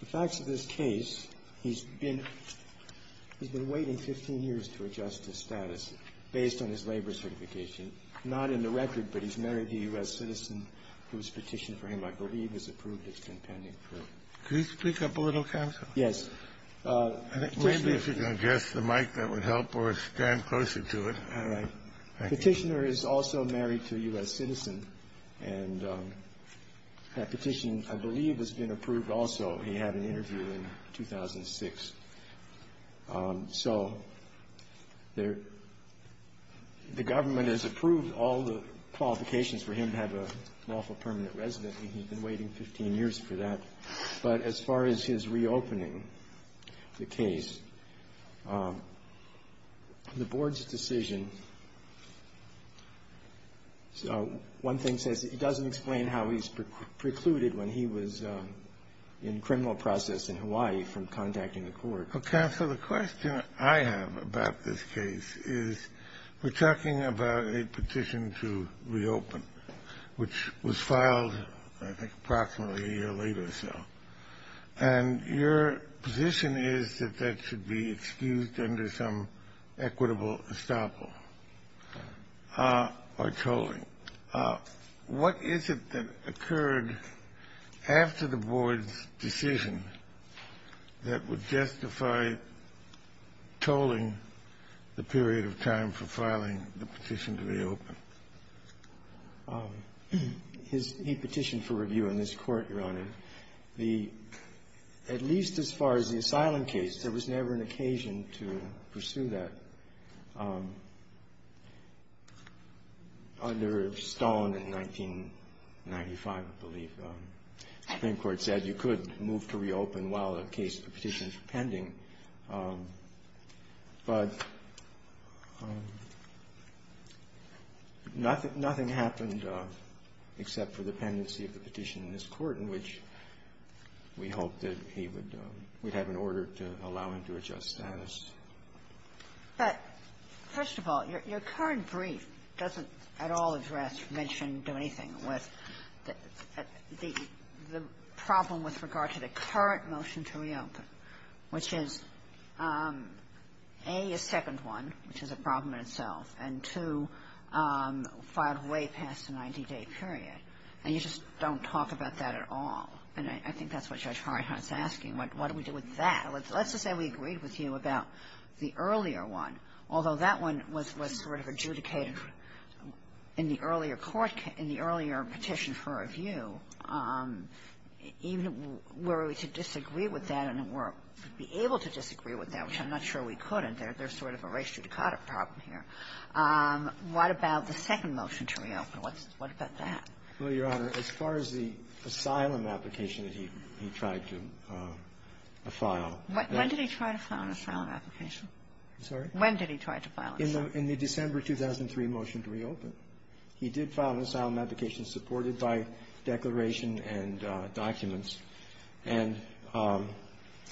The facts of this case, he's been waiting 15 years to adjust his status based on his labor certification. Not in the record, but he's married a U.S. citizen whose petition for him, I believe, has approved its compendium. Could you speak up a little, counsel? Yes. Maybe if you can adjust the mic, that would help, or stand closer to it. All right. Petitioner is also married to a U.S. citizen, and that petition, I believe, has been approved also. He had an interview in 2006. So the government has approved all the qualifications for him to have a lawful permanent residence, and he's been waiting 15 years for that. But as far as his reopening the case, the board's decision, one thing says it doesn't explain how he's precluded when he was in criminal process in Hawaii from contacting the court. Counsel, the question I have about this case is we're talking about a petition to reopen, which was filed, I think, approximately a year later or so. And your position is that that should be excused under some equitable estoppel or tolling. What is it that occurred after the board's decision that would justify tolling the period of time for filing the petition to reopen? He petitioned for review in this court, Your Honor. The at least as far as the asylum case, there was never an occasion to pursue that. Under Stone in 1995, I believe, the Supreme Court said you could move to reopen while the case of the petition is pending, but nothing happened except for the pendency of the petition in this court, in which we hoped that he would we'd have an order to allow him to adjust status. But, first of all, your current brief doesn't at all address, mention, do anything with the problem with regard to the current motion to reopen, which is, A, a second one, which is a problem in itself, and, two, filed way past the 90-day period. And you just don't talk about that at all. And I think that's what Judge Harrenheit's asking. What do we do with that? Let's just say we agreed with you about the earlier one, although that one was sort of adjudicated in the earlier court case, in the earlier petition for review. Even were we to disagree with that, and were able to disagree with that, which I'm not sure we could, and there's sort of a res judicata problem here. What about the second motion to reopen? What's the question? What about that? Well, Your Honor, as far as the asylum application that he tried to file that he tried to file. When did he try to file an asylum application? I'm sorry? When did he try to file an asylum application? In the December 2003 motion to reopen. He did file an asylum application supported by declaration and documents. And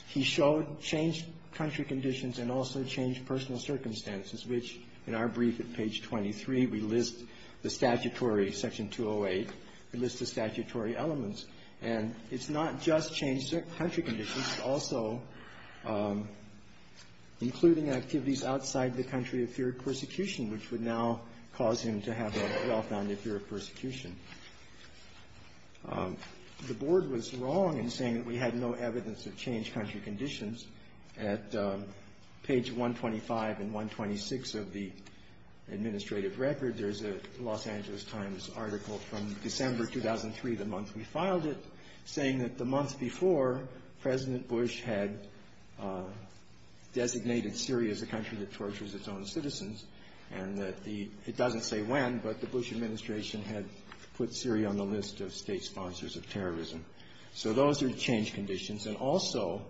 he showed changed country conditions and also changed personal circumstances, which, in our brief at page 23, we list the statutory, section 208, we list the statutory elements. And it's not just changed country conditions, it's also including activities outside the country of fear of persecution, which would now cause him to have a well-founded fear of persecution. The Board was wrong in saying that we had no evidence of changed country conditions. At page 125 and 126 of the administrative record, there's a Los Angeles Times article from December 2003, the month we filed it, saying that the month before, President Bush had designated Syria as a country that tortures its own citizens, and that the — it doesn't say when, but the Bush administration had put Syria on the list of state sponsors of terrorism. So those are changed conditions. And also,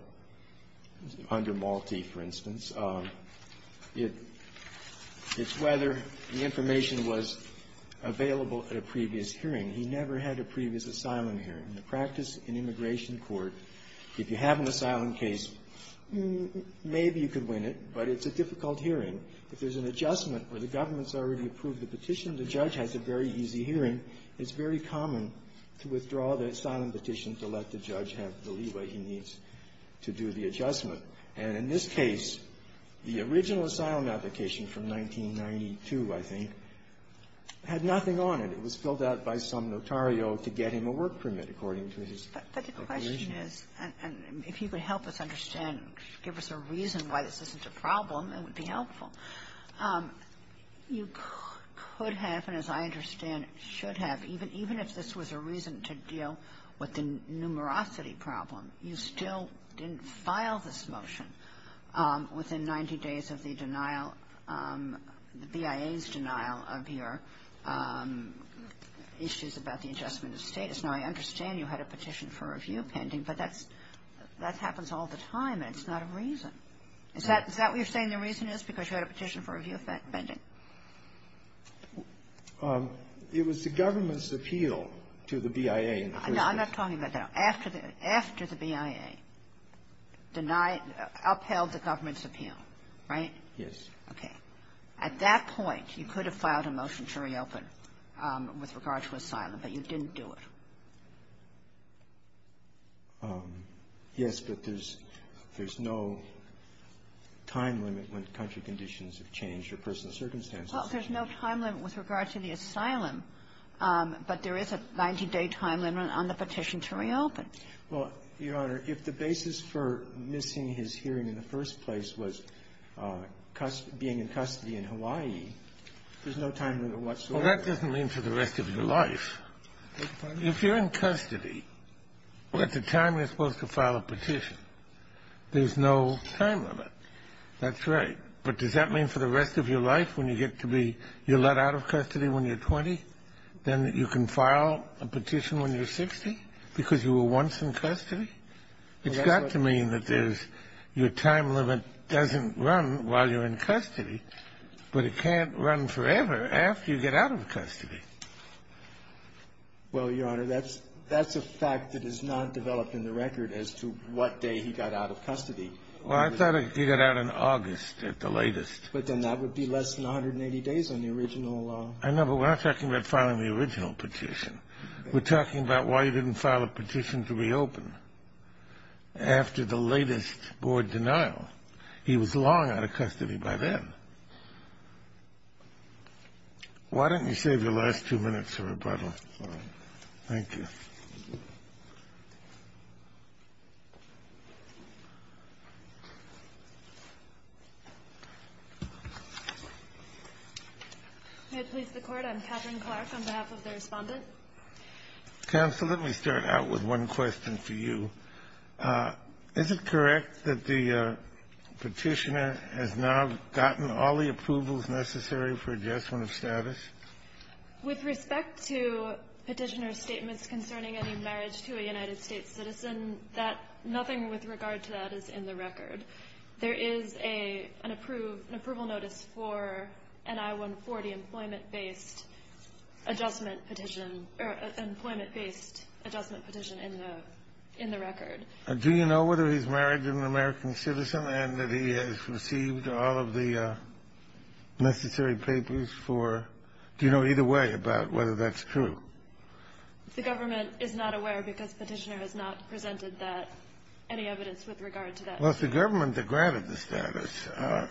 under Malti, for instance, it's whether the information was available at a previous hearing. He never had a previous asylum hearing. In the practice in immigration court, if you have an asylum case, maybe you could win it, but it's a difficult hearing. If there's an adjustment where the government's already approved the petition, the judge has a very easy hearing, it's very common to withdraw the asylum petition to let the judge have the leeway he needs to do the adjustment. And in this case, the original asylum application from 1992, I think, had nothing on it. It was filled out by some notario to get him a work permit, according to his information. But the question is, and if you could help us understand, give us a reason why this isn't a problem, it would be helpful, you could have, and as I understand, should have, even if this was a reason to deal with the numerosity problem, you still didn't file this motion within 90 days of the denial, the BIA's denial of your application issues about the adjustment of status. Now, I understand you had a petition for review pending, but that's that happens all the time, and it's not a reason. Is that what you're saying the reason is, because you had a petition for review pending? Gershengorn It was the government's appeal to the BIA included. Kagan I'm not talking about that. After the BIA denied, upheld the government's appeal, right? Gershengorn Yes. Kagan Okay. At that point, you could have filed a motion to reopen with regard to asylum, but you didn't do it. Gershengorn Yes, but there's no time limit when country conditions have changed or personal circumstances have changed. Kagan Well, there's no time limit with regard to the asylum, but there is a 90-day time limit on the petition to reopen. Gershengorn Well, Your Honor, if the basis for missing his hearing in the first place was being in custody in Hawaii, there's no time limit whatsoever. Kennedy Well, that doesn't mean for the rest of your life. If you're in custody, at the time you're supposed to file a petition, there's no time limit. That's right. But does that mean for the rest of your life, when you get to be you're let out of custody when you're 20, then you can file a petition when you're 60 because you were once in custody? It's got to mean that there's your time limit doesn't run while you're in custody, but it can't run forever after you get out of custody. Gershengorn Well, Your Honor, that's a fact that is not developed in the record as to what day he got out of custody. Kennedy Well, I thought he got out in August at the latest. Gershengorn But then that would be less than 180 days on the original. Kennedy I know, but we're not talking about filing the original petition. We're talking about why you didn't file a petition to reopen. After the latest board denial, he was long out of custody by then. Why don't you save your last two minutes for rebuttal? Thank you. Katherine Clark May I please the court? I'm Katherine Clark on behalf of the respondent. Counsel, let me start out with one question for you. Is it correct that the petitioner has now gotten all the approvals necessary for adjustment of status? With respect to petitioner statements concerning any marriage to a United States citizen, that nothing with regard to that is in the record. There is an approval notice for an I-140 employment based adjustment petition in the record. Kennedy Do you know whether he's married to an American citizen and that he has received all of the necessary papers for, do you know either way about whether that's true? Clark The government is not aware because petitioner has not presented that, any evidence with regard to that. Kennedy Well, it's the government that granted the status.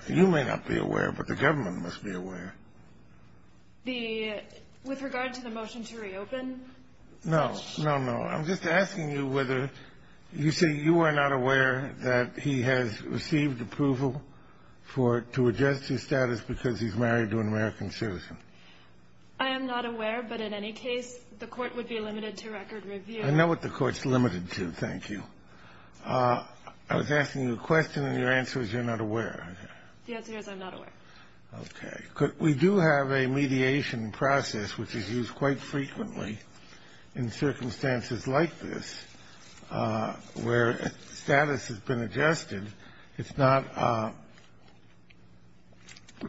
You may not be aware, but the government must be aware. Clark The, with regard to the motion to reopen? Kennedy No, no, no. I'm just asking you whether, you say you are not aware that he has received approval for, to adjust his status because he's married to an American citizen. Clark I am not aware, but in any case, the court would be limited to record review. Kennedy I know what the court's limited to, thank you. I was asking you a question and your answer is you're not aware. Clark The answer is I'm not aware. Okay. We do have a mediation process which is used quite frequently in circumstances like this where status has been adjusted. It's not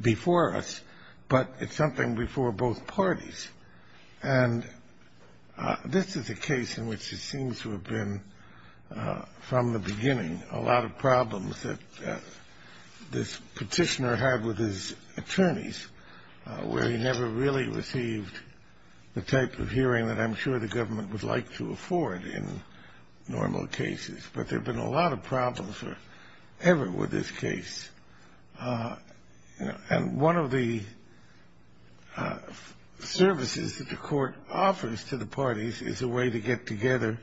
before us, but it's something before both parties. And this is a case in which it seems to have been from the beginning, a lot of problems that this petitioner had with his attorneys, where he never really received the type of hearing that I'm sure the government would like to afford in normal cases. But there have been a lot of problems ever with this case. And one of the services that the court offers to the parties is a way to get the parties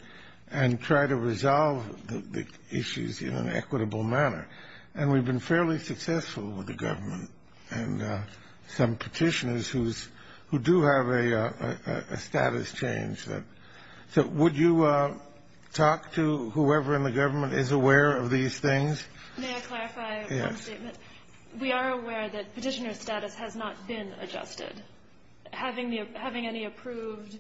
in an equitable manner. And we've been fairly successful with the government and some petitioners who do have a status change. So would you talk to whoever in the government is aware of these things? May I clarify one statement? We are aware that petitioner status has not been adjusted. Having any approved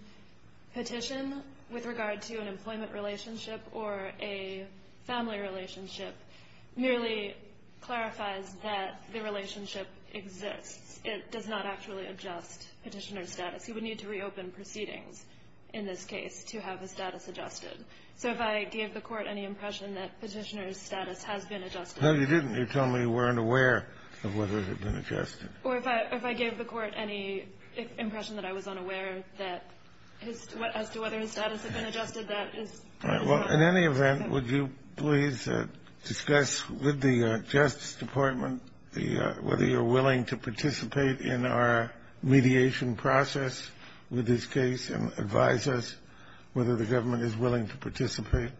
petition with regard to an employment relationship or a family relationship merely clarifies that the relationship exists. It does not actually adjust petitioner status. You would need to reopen proceedings in this case to have the status adjusted. So if I gave the court any impression that petitioner's status has been adjusted- No, you didn't. You told me you weren't aware of whether it had been adjusted. Or if I gave the court any impression that I was unaware as to whether his status had been adjusted, that is- Well, in any event, would you please discuss with the Justice Department whether you're willing to participate in our mediation process with this case and advise us whether the government is willing to participate?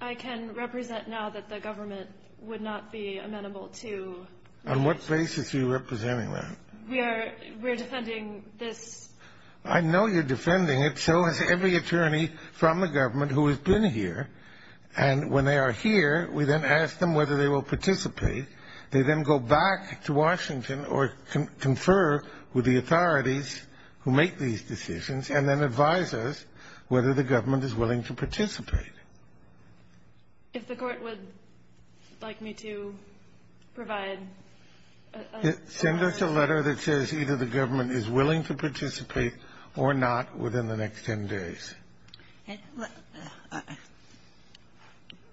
I can represent now that the government would not be amenable to- On what basis are you representing that? We are defending this- I know you're defending it. So is every attorney from the government who has been here. And when they are here, we then ask them whether they will participate. They then go back to Washington or confer with the authorities who make these decisions and then advise us whether the government is willing to participate. If the court would like me to provide a- Send us a letter that says either the government is willing to participate or not within the next 10 days.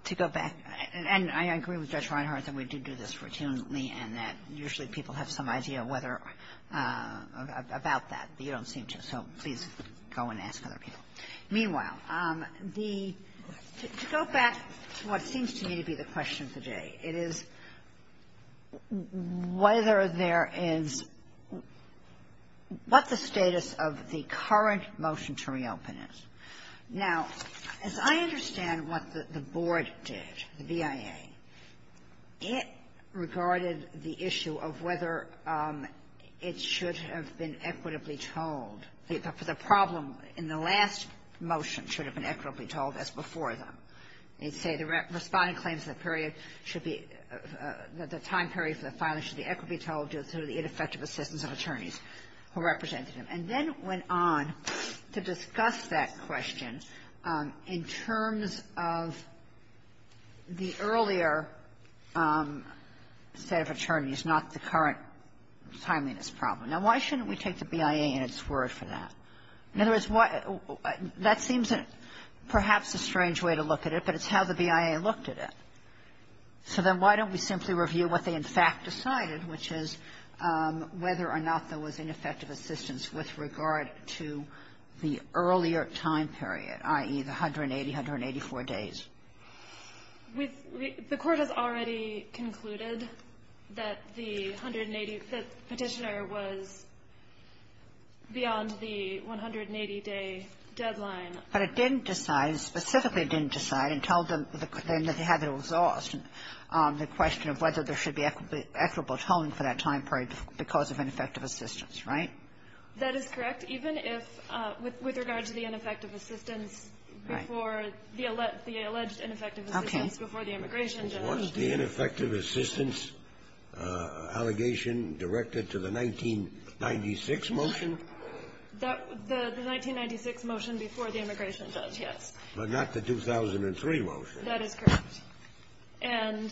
To go back, and I agree with Judge Reinhardt that we do do this routinely and that usually people have some idea whether or about that. You don't seem to. So please go and ask other people. Meanwhile, the to go back to what seems to me to be the question today, it is whether there is what the status of the current motion to reopen is. Now, as I understand what the board did, the BIA, it regarded the issue of whether it should have been equitably told. The problem in the last motion should have been equitably told as before them. They say the responding claims of the period should be, the time period for the filing should be equitably told due to the ineffective assistance of attorneys who represented them, and then went on to discuss that question in terms of the earlier set of attorneys, not the current timeliness problem. Now, why shouldn't we take the BIA in its word for that? In other words, that seems perhaps a strange way to look at it, but it's how the BIA looked at it. So then why don't we simply review what they, in fact, decide? And that's what they decided, which is whether or not there was ineffective assistance with regard to the earlier time period, i.e., the 180, 184 days. The Court has already concluded that the 180, the Petitioner was beyond the 180-day deadline. But it didn't decide, specifically didn't decide until then that they had exhausted the question of whether there should be equitable tolling for that time period because of ineffective assistance, right? That is correct, even if, with regard to the ineffective assistance before the alleged ineffective assistance before the immigration judge. What's the ineffective assistance allegation directed to the 1996 motion? The 1996 motion before the immigration judge, yes. But not the 2003 motion. That is correct. And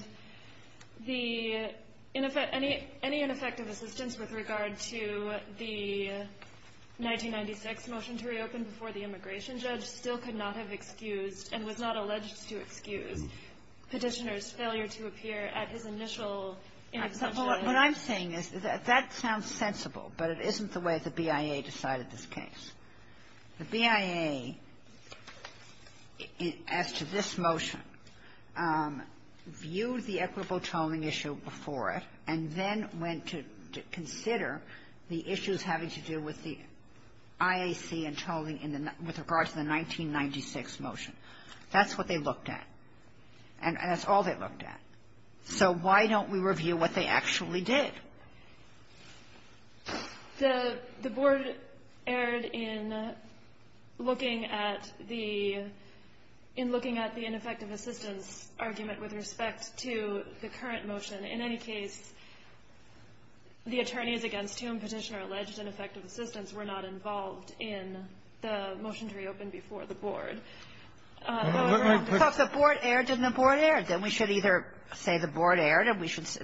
the any ineffective assistance with regard to the 1996 motion to reopen before the immigration judge still could not have excused and was not alleged to excuse Petitioner's failure to appear at his initial intervention. What I'm saying is that that sounds sensible, but it isn't the way the BIA decided this case. The BIA, as to this motion, viewed the equitable tolling issue before it and then went to consider the issues having to do with the IAC and tolling in the 19 --" with regard to the 1996 motion. That's what they looked at. And that's all they looked at. So why don't we review what they actually did? The Board erred in looking at the --" in looking at the ineffective assistance argument with respect to the current motion. In any case, the attorneys against whom Petitioner alleged ineffective assistance were not involved in the motion to reopen before the Board. However, I'm just saying the Board erred and the Board erred. Then we should either say the Board erred and we should say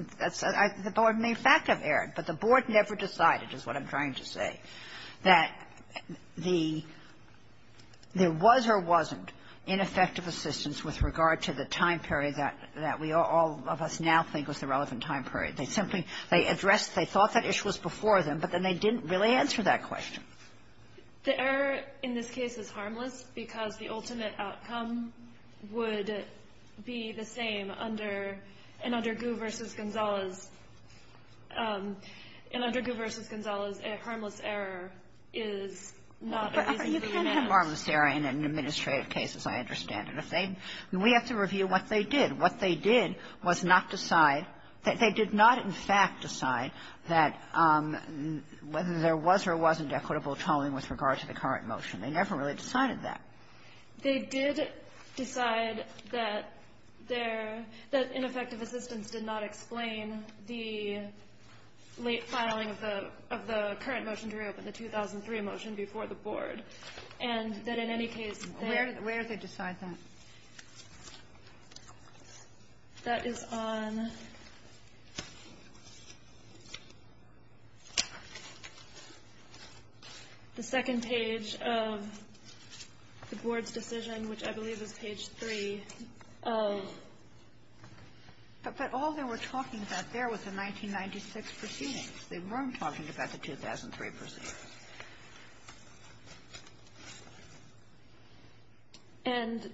the Board may, in fact, have erred. But the Board never decided, is what I'm trying to say, that the --" there was or wasn't ineffective assistance with regard to the time period that we all of us now think was the relevant time period. They simply --" they addressed they thought that issue was before them, but then they didn't really answer that question. The error in this case is harmless because the ultimate outcome would be the same under Gou v. Gonzales. And under Gou v. Gonzales, a harmless error is not a reasonable amount. But you can't have a harmless error in an administrative case, as I understand it. If they --" we have to review what they did. What they did was not decide that they did not, in fact, decide that whether there was or wasn't equitable tolling with regard to the current motion. They never really decided that. They did decide that their --" that ineffective assistance did not explain the late filing of the current motion to reopen, the 2003 motion before the Board. And that in any case, they --" Where did they decide that? That is on the second page of the Board's decision, which I believe is page 3 of But all they were talking about there was the 1996 proceedings. They weren't talking about the 2003 proceedings. And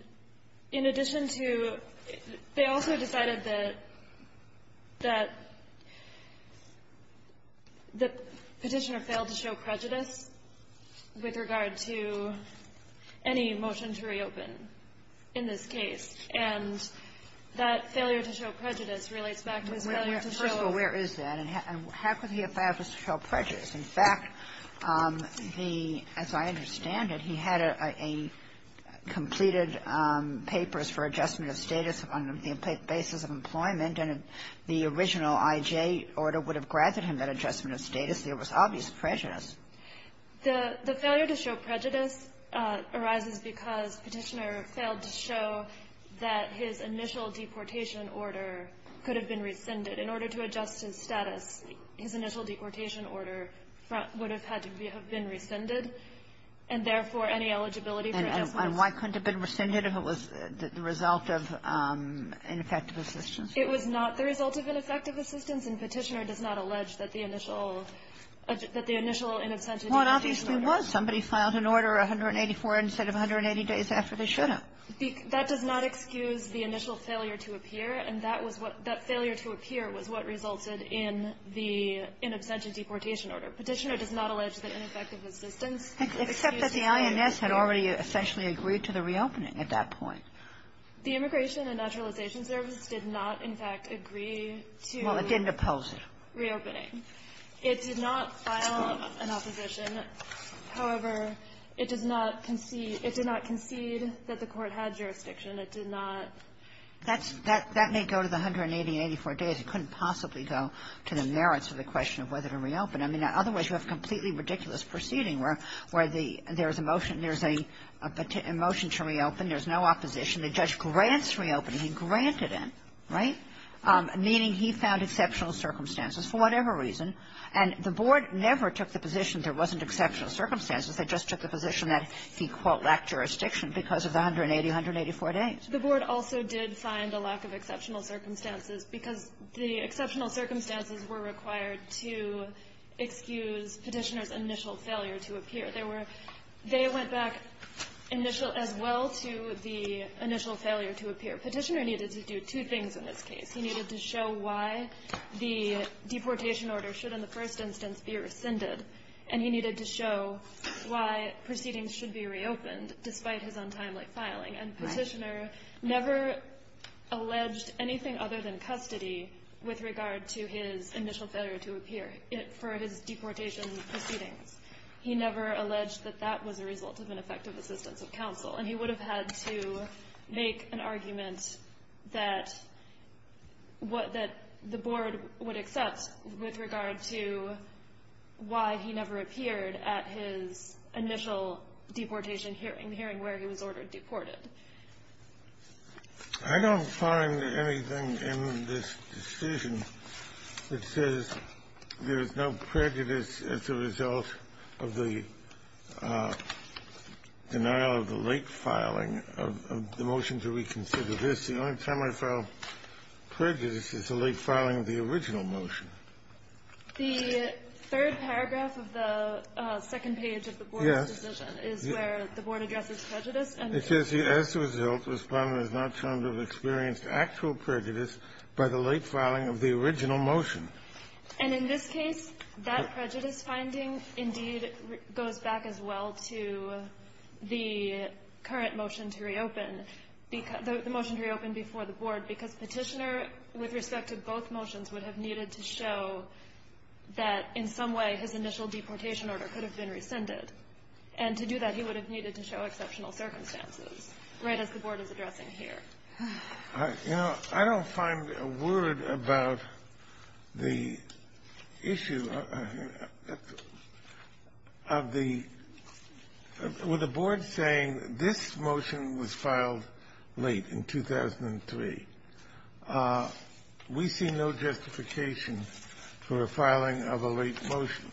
in addition to --" they also decided that the Petitioner failed to show prejudice with regard to any motion to reopen in this case. And that failure to show prejudice relates back to his failure to show up to the Court. In fact, the --" as I understand it, he had a --" completed papers for adjustment of status on the basis of employment, and the original I.J. order would have granted him that adjustment of status. There was obvious prejudice. The failure to show prejudice arises because Petitioner failed to show that his initial deportation order could have been rescinded. In order to adjust his status, his initial deportation order would have had to be rescinded, and therefore, any eligibility for adjustments --" And why couldn't it have been rescinded if it was the result of ineffective assistance? It was not the result of ineffective assistance. And Petitioner does not allege that the initial --" that the initial inabsent of deportation order. Well, it obviously was. Somebody filed an order 184 instead of 180 days after they should have. That does not excuse the initial failure to appear. And that was what --" that failure to appear was what resulted in the inabsent of deportation order. Petitioner does not allege that ineffective assistance --" Except that the INS had already essentially agreed to the reopening at that point. The Immigration and Naturalization Service did not, in fact, agree to the reopening. Well, it didn't oppose it. It did not file an opposition. However, it does not concede --" it did not concede that the Court had jurisdiction. It did not --" That's --" that may go to the 180, 184 days. It couldn't possibly go to the merits of the question of whether to reopen. I mean, otherwise, you have a completely ridiculous proceeding where the --" there was a motion. There's a motion to reopen. There's no opposition. The judge grants reopening. He granted it, right, meaning he found exceptional circumstances for whatever reason. And the Board never took the position there wasn't exceptional circumstances. They just took the position that he, quote, lacked jurisdiction because of the 180, 184 days. The Board also did find a lack of exceptional circumstances because the exceptional circumstances were required to excuse Petitioner's initial failure to appear. There were --" they went back initial --" as well to the initial failure to appear. Petitioner needed to do two things in this case. He needed to show why the deportation order should, in the first instance, be rescinded. And he needed to show why proceedings should be reopened, despite his untimely filing. And Petitioner never alleged anything other than custody with regard to his initial failure to appear for his deportation proceedings. He never alleged that that was a result of ineffective assistance of counsel. And he would have had to make an argument that what the Board would accept with regard to why he never appeared at his initial deportation hearing, the hearing where he was ordered deported. I don't find anything in this decision that says there is no prejudice as a result of the denial of the late filing of the motion to reconsider this. The only time I file prejudice is the late filing of the original motion. The third paragraph of the second page of the Board's decision is where the Board addresses prejudice. It says, as a result, Respondent has not shown to have experienced actual prejudice by the late filing of the original motion. And in this case, that prejudice finding, indeed, goes back as well to the current motion to reopen, the motion to reopen before the Board, because Petitioner, with respect to both motions, would have needed to show that in some way his initial deportation order could have been rescinded. And to do that, he would have needed to show exceptional circumstances, right as the Board is addressing here. You know, I don't find a word about the issue of the – with the Board saying, this motion was filed late in 2003. We see no justification for a filing of a late motion.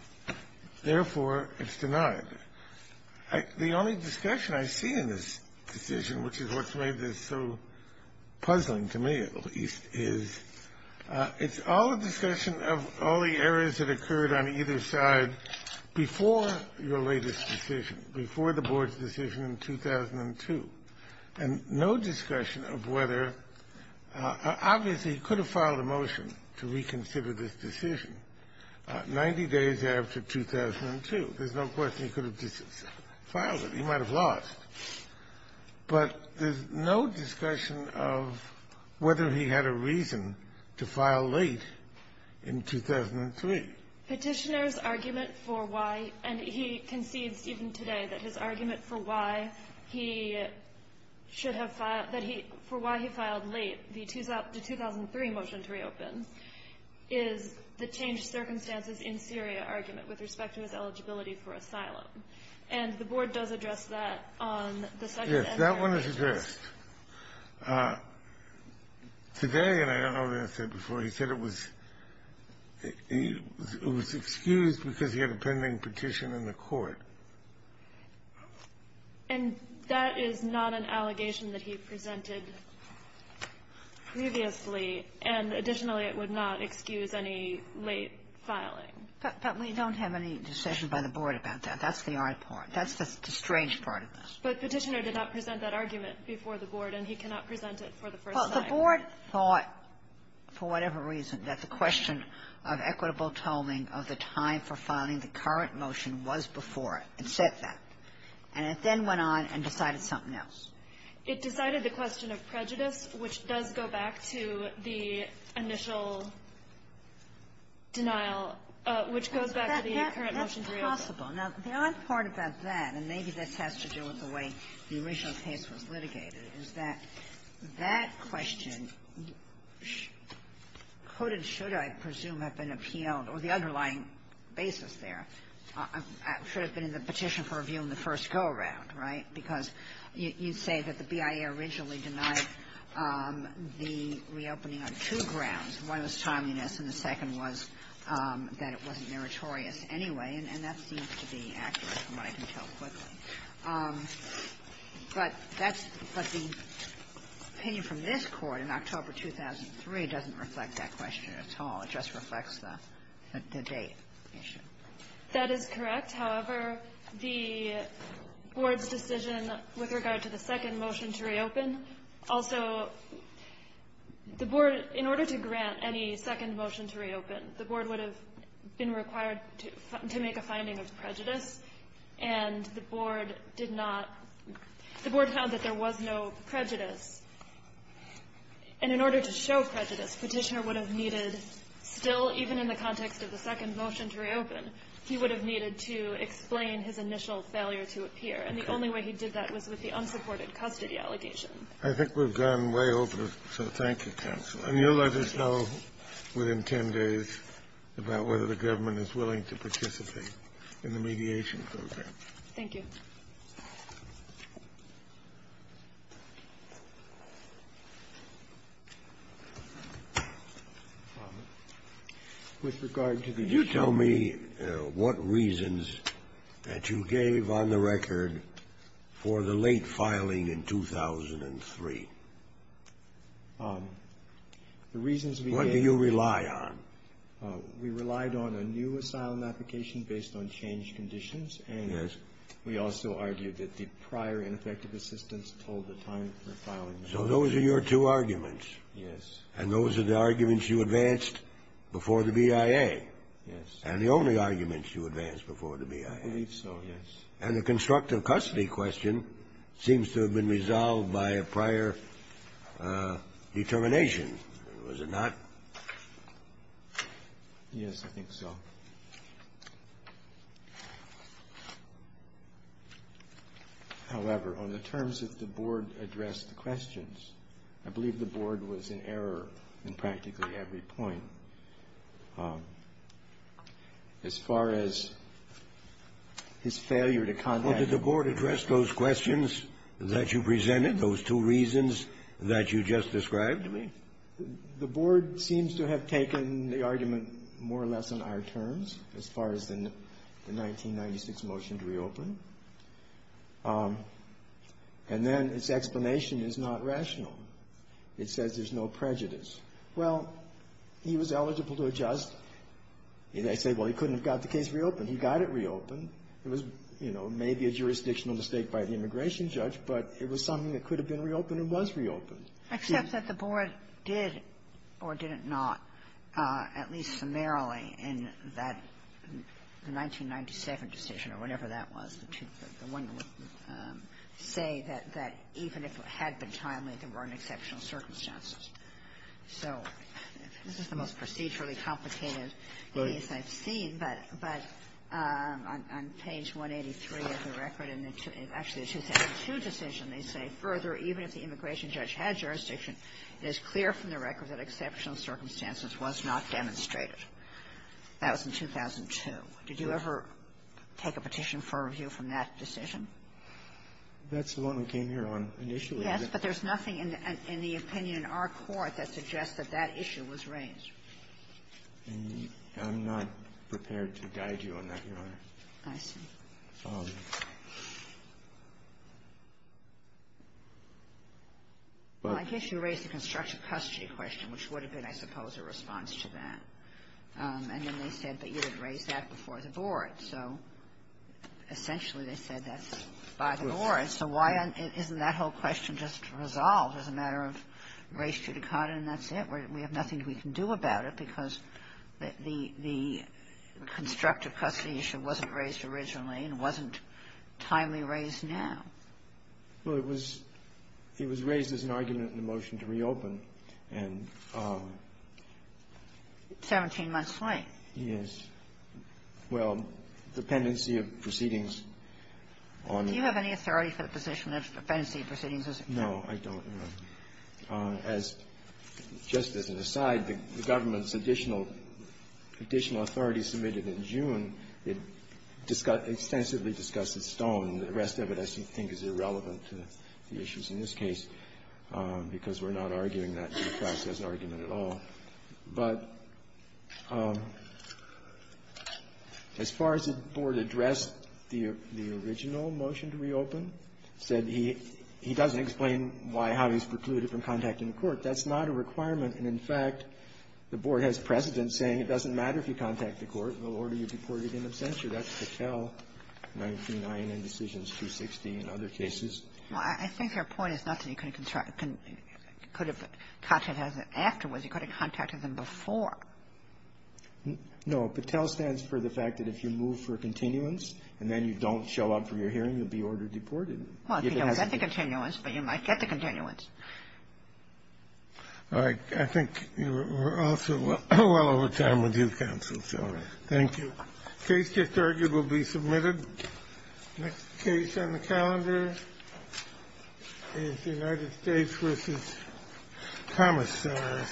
Therefore, it's denied. The only discussion I see in this decision, which is what's made this so puzzling to me, at least, is it's all a discussion of all the errors that occurred on either side before your latest decision, before the Board's decision in 2002. And no discussion of whether – obviously, he could have filed a motion to reconsider this decision 90 days after 2002. There's no question he could have just filed it. He might have lost. But there's no discussion of whether he had a reason to file late in 2003. Petitioner's argument for why – and he concedes even today that his argument for why he should have filed – that he – for why he filed late, the 2003 motion to reopen, is the changed circumstances in Syria argument with respect to his eligibility for asylum. And the Board does address that on the second and third. Yes, that one is addressed. Today, and I don't know what he said before, he said it was – it was excused because he had a pending petition in the court. And that is not an allegation that he presented previously. And additionally, it would not excuse any late filing. But we don't have any decision by the Board about that. That's the odd part. That's the strange part of this. But Petitioner did not present that argument before the Board, and he cannot present it for the first time. Well, the Board thought, for whatever reason, that the question of equitable tolling of the time for filing the current motion was before it. It said that. And it then went on and decided something else. It decided the question of prejudice, which does go back to the initial denial, which goes back to the current motion to reopen. That's possible. Now, the odd part about that, and maybe this has to do with the way the original case was litigated, is that that question could and should, I presume, have been appealed, or the underlying basis there should have been in the petition for review in the first go-around, right? Because you say that the BIA originally denied the reopening on two grounds. One was timeliness, and the second was that it wasn't meritorious anyway. And that seems to be accurate from what I can tell quickly. But that's the opinion from this Court in October 2003 doesn't reflect that question at all. It just reflects the date issue. That is correct. However, the Board's decision with regard to the second motion to reopen, also, the Board, in order to grant any second motion to reopen, the Board would have been required to make a finding of prejudice, and the Board did not the Board found that there was no prejudice. And in order to show prejudice, Petitioner would have needed still, even in the context of the second motion to reopen, he would have needed to explain his initial failure to appear. And the only way he did that was with the unsupported custody allegation. I think we've gone way over, so thank you, Counsel. And you'll let us know within 10 days about whether the government is willing to participate in the mediation program. Thank you. With regard to the issue of the late filing in 2003, what do you rely on? We relied on a new asylum application based on changed conditions. And we also argued that the prior ineffective assistance told the time for filing. So those are your two arguments? Yes. And those are the arguments you advanced before the BIA? Yes. And the only arguments you advanced before the BIA? I believe so, yes. And the constructive custody question seems to have been resolved by a prior determination, was it not? Yes, I think so. However, on the terms that the Board addressed the questions, I believe the Board was in error in practically every point. As far as his failure to contact the Board. Did the Board address those questions that you presented, those two reasons that you just described? The Board seems to have taken the argument more or less on our terms, as far as the 1996 motion to reopen. And then its explanation is not rational. It says there's no prejudice. Well, he was eligible to adjust. I say, well, he couldn't have got the case reopened. He got it reopened. It was, you know, maybe a jurisdictional mistake by the immigration judge, but it was something that could have been reopened and was reopened. Except that the Board did, or did it not, at least summarily in that 1997 decision or whatever that was, the one that would say that even if it had been timely, there weren't exceptional circumstances. So this is the most procedurally complicated case I've seen. But on page 183 of the record, in actually the 2002 decision, they say, further, even if the immigration judge had jurisdiction, it is clear from the record that exceptional circumstances was not demonstrated. That was in 2002. Did you ever take a petition for review from that decision? That's the one we came here on initially. Yes, but there's nothing in the opinion in our court that suggests that that issue was raised. And I'm not prepared to guide you on that, Your Honor. I see. Well, I guess you raised the constructive custody question, which would have been, I suppose, a response to that. And then they said that you had raised that before the Board. So essentially, they said that's by the Board. So why isn't that whole question just resolved as a matter of race to the cot, and that's it? We have nothing we can do about it because the constructive custody issue wasn't raised originally, and wasn't timely raised now. Well, it was raised as an argument in the motion to reopen, and ---- Seventeen months late. Yes. Well, the pendency of proceedings on ---- Do you have any authority for the position of the pendency of proceedings as it were? No, I don't, Your Honor. As just as an aside, the government's additional authority submitted in June, it extensively discussed at Stone. The rest of it, I think, is irrelevant to the issues in this case because we're not arguing that in the process argument at all. But as far as the Board addressed the original motion to reopen, said he doesn't explain why, how he's precluded from contacting the Court. That's not a requirement. And, in fact, the Board has precedent saying it doesn't matter if you contact the Court, they'll order you deported in absentia. That's Patel, 19 I&N Decisions 260 and other cases. Well, I think your point is not that you couldn't contact the ---- could have contacted them afterwards. You could have contacted them before. No. Patel stands for the fact that if you move for continuance and then you don't show up for your hearing, you'll be ordered deported. Well, if you don't get the continuance, but you might get the continuance. All right. I think we're also well over time with you, counsel, so thank you. Case just argued will be submitted. Next case on the calendar is United States v. Thomas, I think.